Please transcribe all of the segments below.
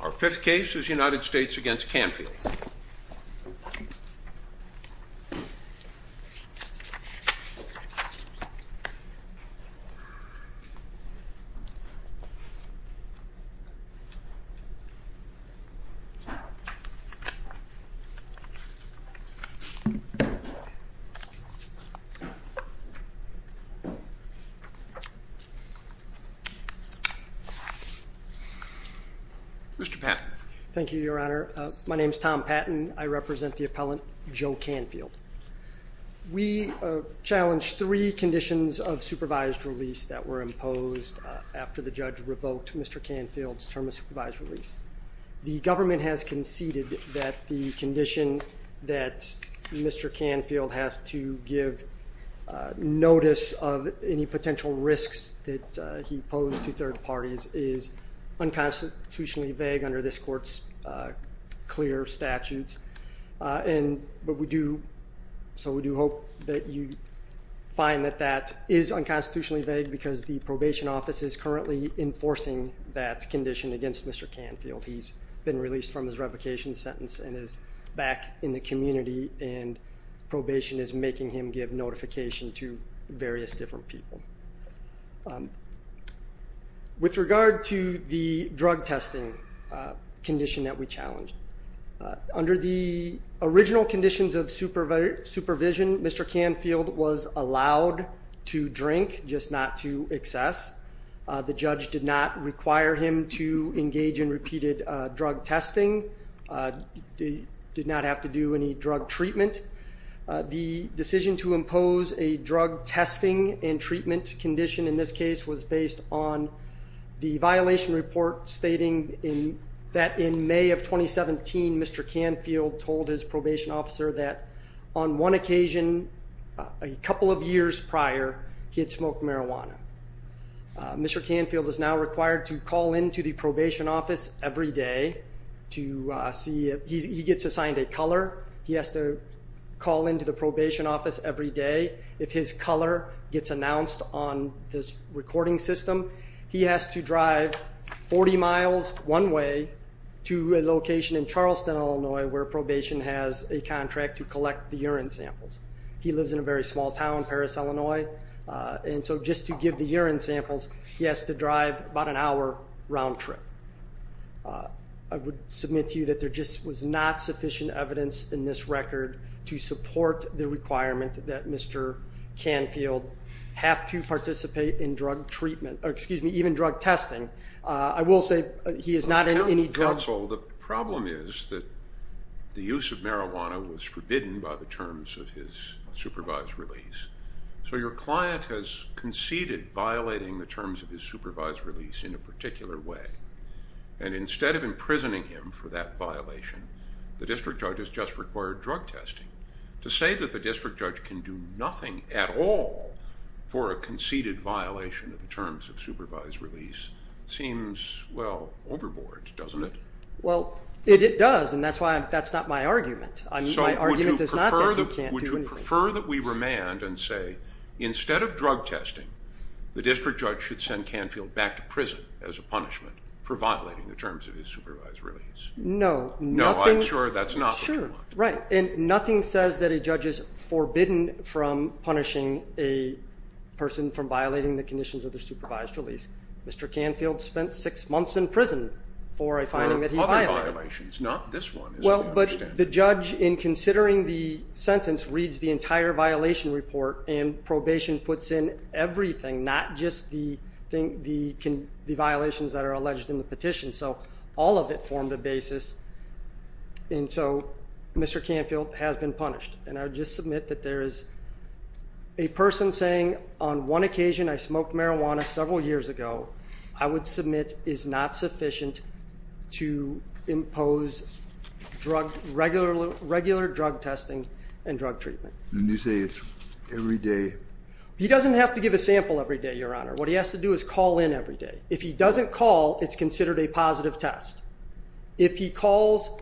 Our fifth case is United States v. Canfield Mr. Patton Thank you, Your Honor. My name is Tom Patton. I represent the appellant Joe Canfield. We challenge three conditions of supervised release that were imposed after the judge revoked Mr. Canfield's term of supervised release. The government has conceded that the condition that Mr. Canfield has to give notice of any potential risks that he posed to third parties is unconstitutionally vague under this court's clear statutes. We do hope that you find that that is unconstitutionally vague because the probation office is currently enforcing that condition against Mr. Canfield. He's been released from his revocation sentence and is back in the community and probation is making him give notification to various different people. With regard to the drug testing condition that we challenge, under the original conditions of supervision, Mr. Canfield was allowed to drink, just not to excess. The judge did not require him to engage in repeated drug testing. He did not have to do any drug treatment. The decision to impose a drug testing and treatment condition in this case was based on the violation report stating that in May of 2017, Mr. Canfield told his probation officer that on one occasion, a couple of years prior, he had smoked marijuana. Mr. Canfield is now required to call into the probation office every day to see if he gets assigned a color. He has to call into the probation office every day. If his color gets announced on this recording system, he has to drive 40 miles one way to a location in Charleston, Illinois, where probation has a contract to collect the urine samples. He lives in a very small town, Paris, Illinois, and so just to give the urine samples, he has to drive about an hour round trip. I would submit to you that there just was not sufficient evidence in this record to support the requirement that Mr. Canfield have to participate in drug treatment, or excuse me, even drug testing. I will say he is not in any drugs. Counsel, the problem is that the use of marijuana was forbidden by the terms of his supervised release, so your client has conceded violating the terms of his supervised release in a particular way, and instead of imprisoning him for that violation, the district judge has just required drug testing. To say that the district judge can do nothing at all for a conceded violation of the terms of supervised release seems, well, overboard, doesn't it? Well, it does, and that's why that's not my argument. So would you prefer that we remand and say instead of drug testing, the district judge should send Canfield back to prison as a punishment for violating the terms of his supervised release? No. No, I'm sure that's not what you want. Sure, right, and nothing says that a judge is forbidden from punishing a person from violating the conditions of their supervised release. Mr. Canfield spent six months in prison for a finding that he violated. For other violations, not this one, as we understand it. The judge, in considering the sentence, reads the entire violation report, and probation puts in everything, not just the violations that are alleged in the petition. So all of it formed a basis, and so Mr. Canfield has been punished. And I would just submit that there is a person saying on one occasion, I smoked marijuana several years ago, I would submit is not sufficient to impose regular drug testing and drug treatment. And you say it's every day? He doesn't have to give a sample every day, Your Honor. What he has to do is call in every day. If he doesn't call, it's considered a positive test. If he calls,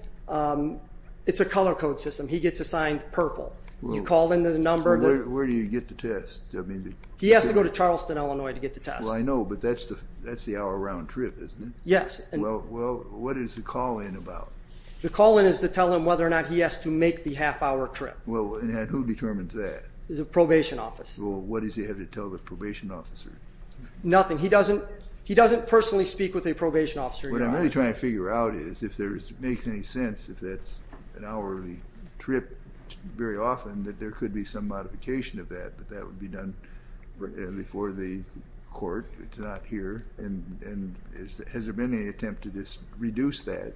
it's a color code system. He gets assigned purple. You call in the number. Where do you get the test? He has to go to Charleston, Illinois, to get the test. Well, I know, but that's the hour-round trip, isn't it? Yes. Well, what is the call in about? The call in is to tell him whether or not he has to make the half-hour trip. Well, and who determines that? The probation office. Well, what does he have to tell the probation officer? Nothing. He doesn't personally speak with a probation officer, Your Honor. What I'm really trying to figure out is if it makes any sense, if that's an hourly trip very often, that there could be some modification of that, but that would be done before the court. It's not here. And has there been any attempt to just reduce that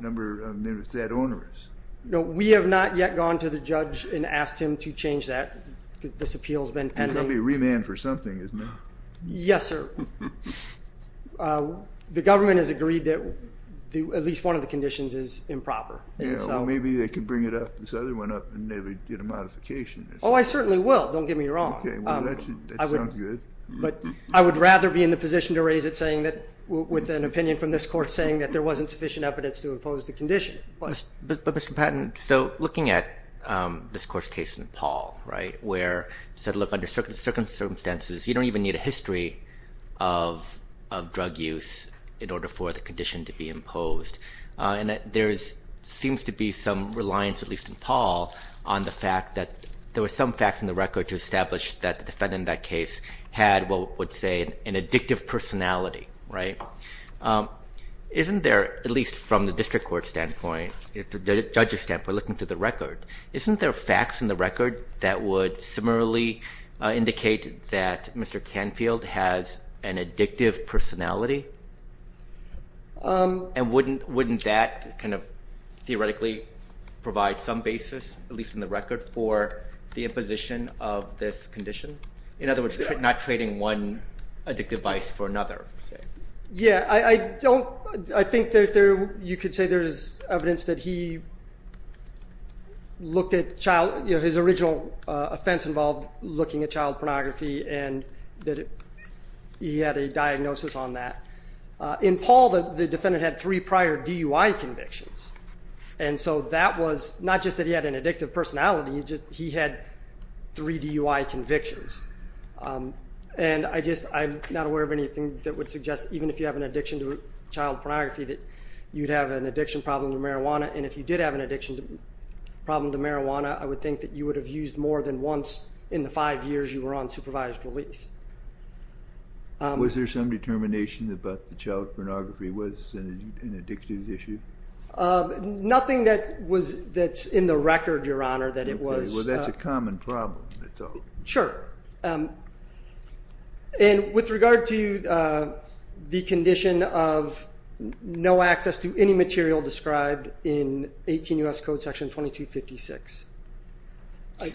number? I mean, if it's that onerous. No, we have not yet gone to the judge and asked him to change that. This appeal has been pending. He's going to be remanded for something, isn't he? Yes, sir. The government has agreed that at least one of the conditions is improper. Yeah, well, maybe they could bring this other one up and they would get a modification. Oh, I certainly will. Don't get me wrong. Okay, well, that sounds good. But I would rather be in the position to raise it with an opinion from this court saying that there wasn't sufficient evidence to impose the condition. But, Mr. Patton, so looking at this court's case in Paul, right, where it said, look, under certain circumstances, you don't even need a history of drug use in order for the condition to be imposed. And there seems to be some reliance, at least in Paul, on the fact that there were some facts in the record to establish that the defendant in that case had what would say an addictive personality, right? Isn't there, at least from the district court standpoint, the judge's standpoint looking through the record, isn't there facts in the record that would similarly indicate that Mr. Canfield has an addictive personality? And wouldn't that kind of theoretically provide some basis, at least in the record, for the imposition of this condition? In other words, not trading one addictive vice for another. Yeah, I think you could say there's evidence that he looked at his original offense involved looking at child pornography, and that he had a diagnosis on that. In Paul, the defendant had three prior DUI convictions. And so that was not just that he had an addictive personality, he had three DUI convictions. And I'm not aware of anything that would suggest, even if you have an addiction to child pornography, that you'd have an addiction problem to marijuana. And if you did have an addiction problem to marijuana, I would think that you would have used more than once in the five years you were on supervised release. Was there some determination that child pornography was an addictive issue? Nothing that's in the record, Your Honor, that it was. Well, that's a common problem. Sure. And with regard to the condition of no access to any material described in 18 U.S. Code Section 2256.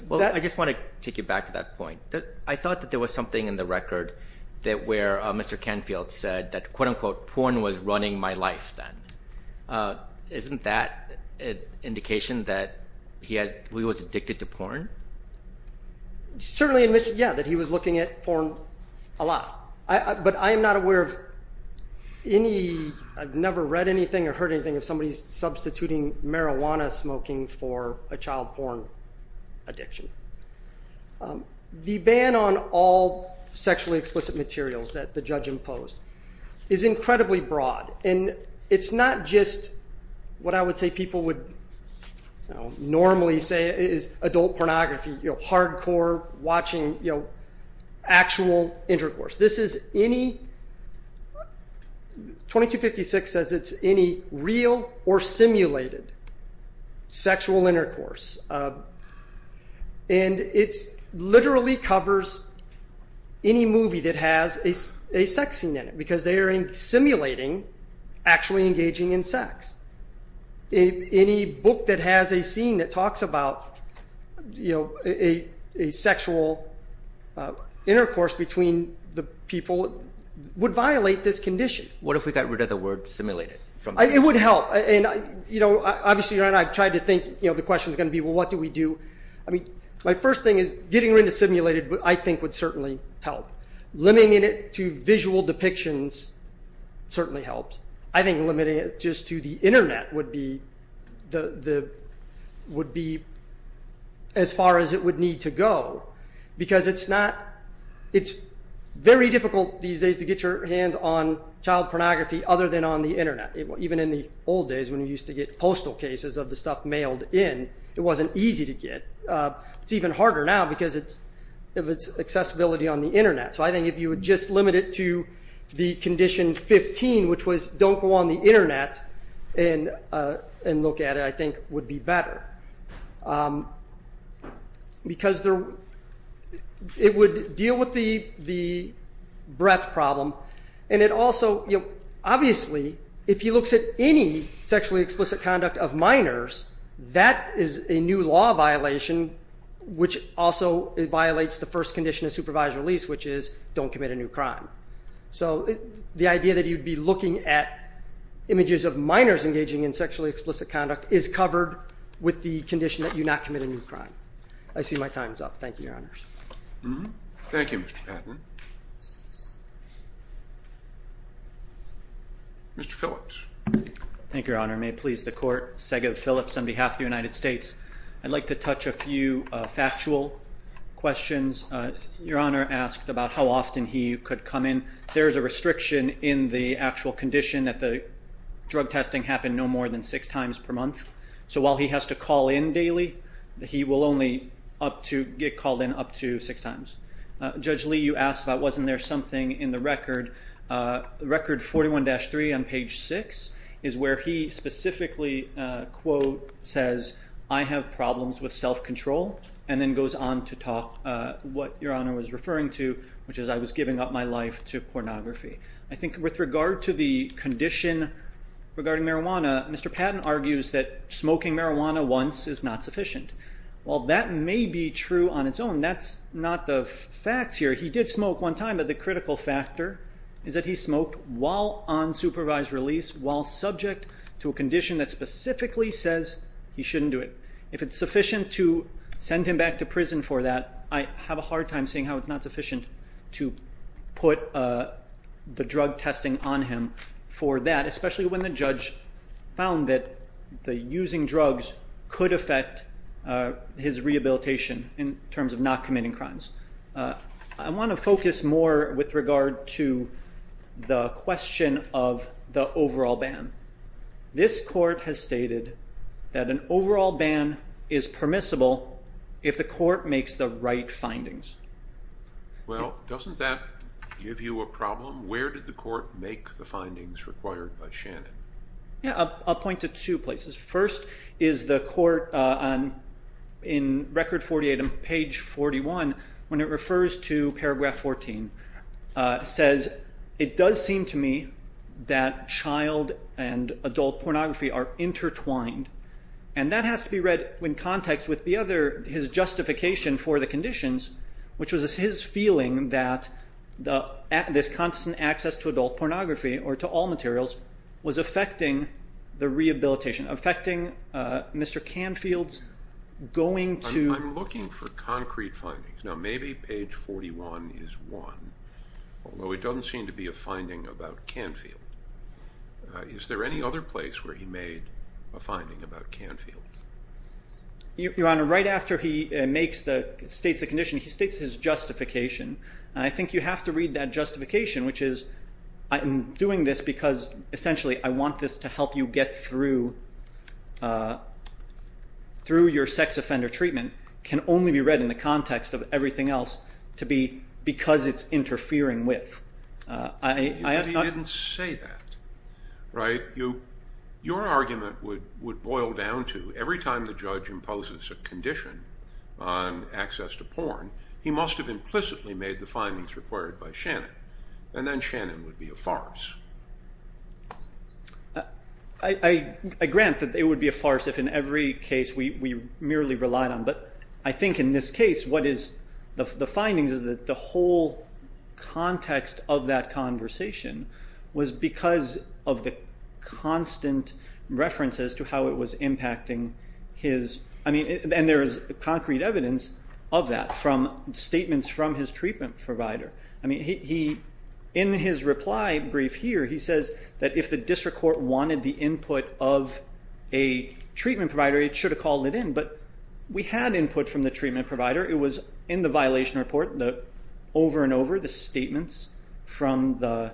Well, I just want to take you back to that point. I thought that there was something in the record where Mr. Canfield said that, quote-unquote, porn was running my life then. Isn't that an indication that he was addicted to porn? Certainly, yeah, that he was looking at porn a lot. But I am not aware of any – I've never read anything or heard anything of somebody substituting marijuana smoking for a child porn addiction. The ban on all sexually explicit materials that the judge imposed is incredibly broad. And it's not just what I would say people would normally say is adult pornography, you know, hardcore watching, you know, actual intercourse. This is any – 2256 says it's any real or simulated sexual intercourse. And it literally covers any movie that has a sex scene in it because they are simulating actually engaging in sex. Any book that has a scene that talks about, you know, a sexual intercourse between the people would violate this condition. What if we got rid of the word simulated? It would help. And, you know, obviously I've tried to think, you know, the question is going to be, well, what do we do? I mean, my first thing is getting rid of simulated I think would certainly help. Limiting it to visual depictions certainly helps. I think limiting it just to the Internet would be as far as it would need to go because it's not – it's very difficult these days to get your hands on child pornography other than on the Internet. Even in the old days when we used to get postal cases of the stuff mailed in, it wasn't easy to get. It's even harder now because of its accessibility on the Internet. So I think if you would just limit it to the condition 15, which was don't go on the Internet and look at it I think would be better because it would deal with the breadth problem. And it also, you know, obviously if he looks at any sexually explicit conduct of minors, that is a new law violation, which also violates the first condition of supervised release, which is don't commit a new crime. So the idea that you'd be looking at images of minors engaging in sexually explicit conduct is covered with the condition that you not commit a new crime. I see my time's up. Thank you, Your Honors. Thank you, Mr. Patton. Mr. Phillips. Thank you, Your Honor. May it please the Court. Sego Phillips on behalf of the United States. I'd like to touch a few factual questions. Your Honor asked about how often he could come in. There is a restriction in the actual condition that the drug testing happen no more than six times per month. So while he has to call in daily, he will only get called in up to six times. Judge Lee, you asked about wasn't there something in the record. Record 41-3 on page 6 is where he specifically, quote, says, I have problems with self-control, and then goes on to talk what Your Honor was referring to, which is I was giving up my life to pornography. I think with regard to the condition regarding marijuana, Mr. Patton argues that smoking marijuana once is not sufficient. While that may be true on its own, that's not the facts here. He did smoke one time, but the critical factor is that he smoked while on supervised release, while subject to a condition that specifically says he shouldn't do it. If it's sufficient to send him back to prison for that, I have a hard time seeing how it's not sufficient to put the drug testing on him for that, especially when the judge found that using drugs could affect his rehabilitation in terms of not committing crimes. I want to focus more with regard to the question of the overall ban. This court has stated that an overall ban is permissible if the court makes the right findings. Well, doesn't that give you a problem? Where did the court make the findings required by Shannon? I'll point to two places. First is the court in Record 48 on page 41, when it refers to paragraph 14. It says, It does seem to me that child and adult pornography are intertwined. That has to be read in context with his justification for the conditions, which was his feeling that this constant access to adult pornography, or to all materials, was affecting the rehabilitation, affecting Mr. Canfield's going to- I'm looking for concrete findings. Now, maybe page 41 is one, although it doesn't seem to be a finding about Canfield. Is there any other place where he made a finding about Canfield? Your Honor, right after he states the condition, he states his justification. I think you have to read that justification, which is, I'm doing this because essentially I want this to help you get through your sex offender treatment, can only be read in the context of everything else to be because it's interfering with. But he didn't say that, right? Your argument would boil down to every time the judge imposes a condition on access to porn, he must have implicitly made the findings required by Shannon, and then Shannon would be a farce. I grant that it would be a farce if in every case we merely relied on, but I think in this case what is the findings is that the whole context of that conversation was because of the constant references to how it was impacting his- statements from his treatment provider. In his reply brief here, he says that if the district court wanted the input of a treatment provider, it should have called it in, but we had input from the treatment provider. It was in the violation report, over and over, the statements from the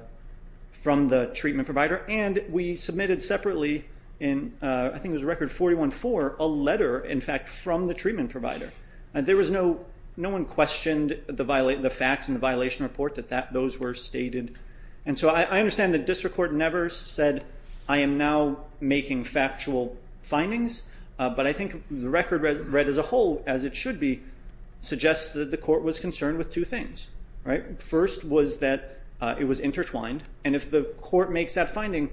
treatment provider, and we submitted separately in, I think it was record 41-4, a letter, in fact, from the treatment provider. There was no one questioned the facts in the violation report that those were stated. And so I understand the district court never said, I am now making factual findings, but I think the record read as a whole, as it should be, suggests that the court was concerned with two things. First was that it was intertwined, and if the court makes that finding,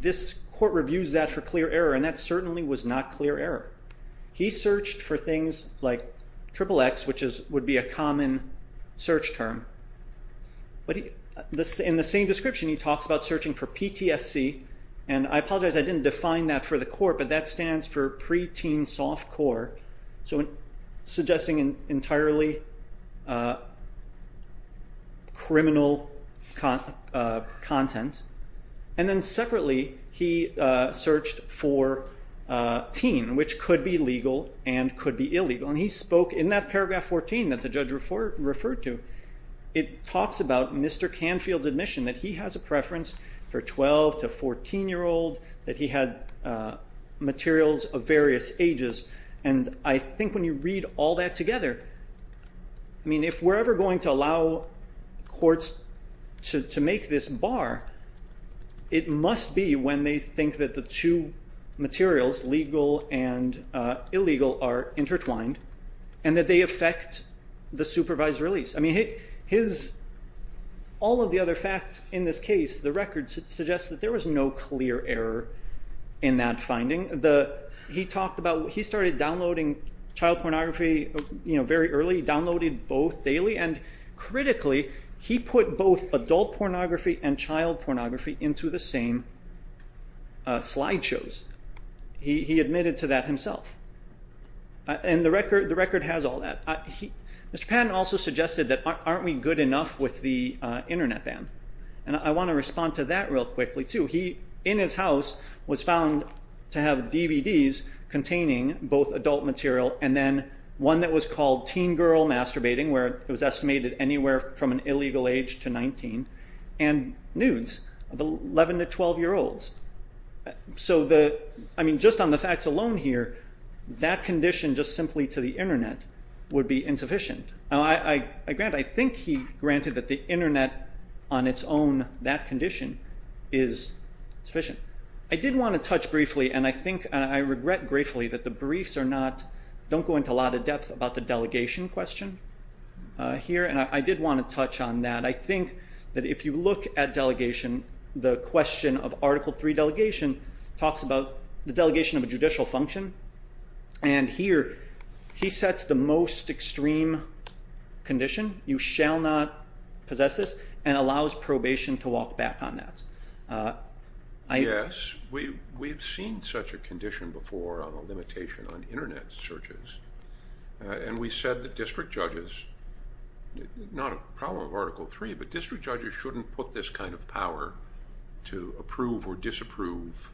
this court reviews that for clear error, and that certainly was not clear error. He searched for things like XXX, which would be a common search term, but in the same description he talks about searching for PTSD, and I apologize, I didn't define that for the court, but that stands for preteen soft core, so suggesting entirely criminal content. And then separately he searched for teen, which could be legal and could be illegal, and he spoke in that paragraph 14 that the judge referred to, it talks about Mr. Canfield's admission that he has a preference for 12 to 14-year-old, that he had materials of various ages, and I think when you read all that together, I mean, if we're ever going to allow courts to make this bar, it must be when they think that the two materials, legal and illegal, are intertwined, and that they affect the supervised release. I mean, all of the other facts in this case, the record suggests that there was no clear error in that finding. He started downloading child pornography very early, downloaded both daily, and critically he put both adult pornography and child pornography into the same slideshows. He admitted to that himself, and the record has all that. Mr. Patton also suggested that aren't we good enough with the Internet ban, and I want to respond to that real quickly, too. He, in his house, was found to have DVDs containing both adult material and then one that was called teen girl masturbating, where it was estimated anywhere from an illegal age to 19, and nudes of 11 to 12-year-olds. So just on the facts alone here, that condition just simply to the Internet would be insufficient. I think he granted that the Internet on its own, that condition, is sufficient. I did want to touch briefly, and I regret gratefully that the briefs are not, don't go into a lot of depth about the delegation question here, and I did want to touch on that. I think that if you look at delegation, the question of Article III delegation talks about the delegation of a judicial function, and here he sets the most extreme condition, you shall not possess this, and allows probation to walk back on that. Yes, we've seen such a condition before on the limitation on Internet searches, and we said that district judges, not a problem with Article III, but district judges shouldn't put this kind of power to approve or disapprove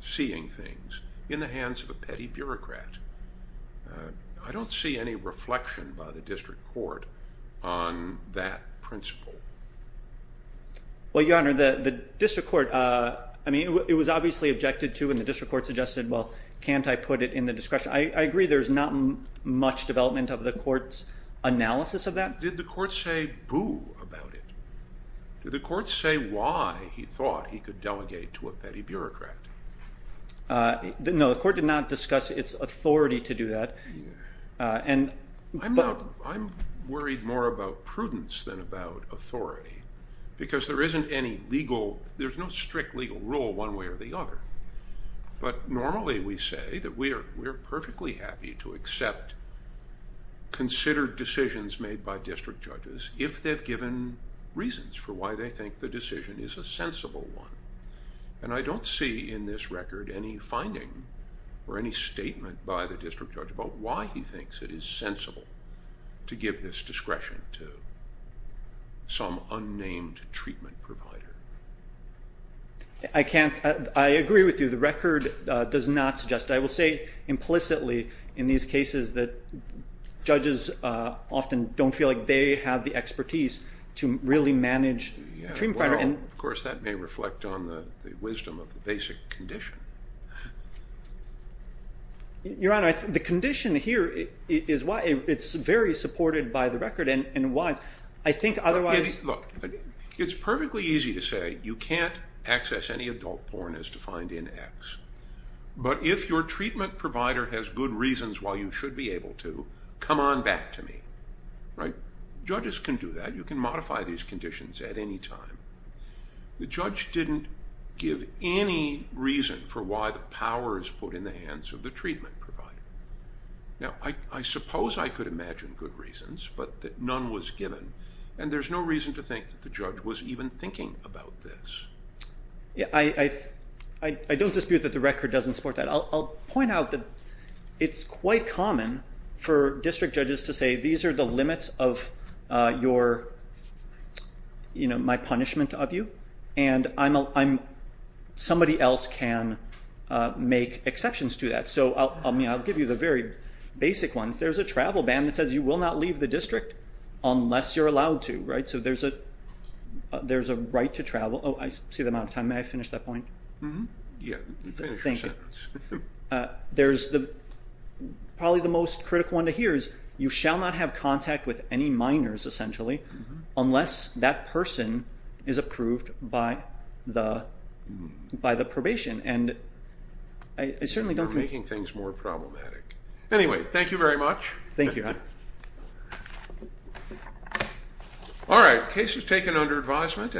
seeing things in the hands of a petty bureaucrat. I don't see any reflection by the district court on that principle. Well, Your Honor, the district court, I mean, it was obviously objected to, and the district court suggested, well, can't I put it in the discretion? I agree there's not much development of the court's analysis of that. Did the court say boo about it? Did the court say why he thought he could delegate to a petty bureaucrat? No, the court did not discuss its authority to do that. I'm worried more about prudence than about authority, because there isn't any legal, there's no strict legal rule one way or the other, but normally we say that we are perfectly happy to accept considered decisions made by district judges if they've given reasons for why they think the decision is a sensible one. And I don't see in this record any finding or any statement by the district judge about why he thinks it is sensible to give this discretion to some unnamed treatment provider. I agree with you. The record does not suggest that. I will say implicitly in these cases that judges often don't feel like they have the expertise to really manage treatment providers. Well, of course that may reflect on the wisdom of the basic condition. Your Honor, the condition here is why it's very supported by the record and wise. I think otherwise... Look, it's perfectly easy to say you can't access any adult porn as defined in X, but if your treatment provider has good reasons why you should be able to, come on back to me. Judges can do that. You can modify these conditions at any time. The judge didn't give any reason for why the power is put in the hands of the treatment provider. Now, I suppose I could imagine good reasons, but none was given, and there's no reason to think that the judge was even thinking about this. I don't dispute that the record doesn't support that. I'll point out that it's quite common for district judges to say these are the limits of my punishment of you, and somebody else can make exceptions to that. So I'll give you the very basic ones. There's a travel ban that says you will not leave the district unless you're allowed to. So there's a right to travel. Oh, I see the amount of time. May I finish that point? Yeah, finish your sentence. Thank you. There's probably the most critical one to hear is you shall not have contact with any minors, essentially, unless that person is approved by the probation, and I certainly don't think... You're making things more problematic. Anyway, thank you very much. Thank you. All right, case is taken under advisement.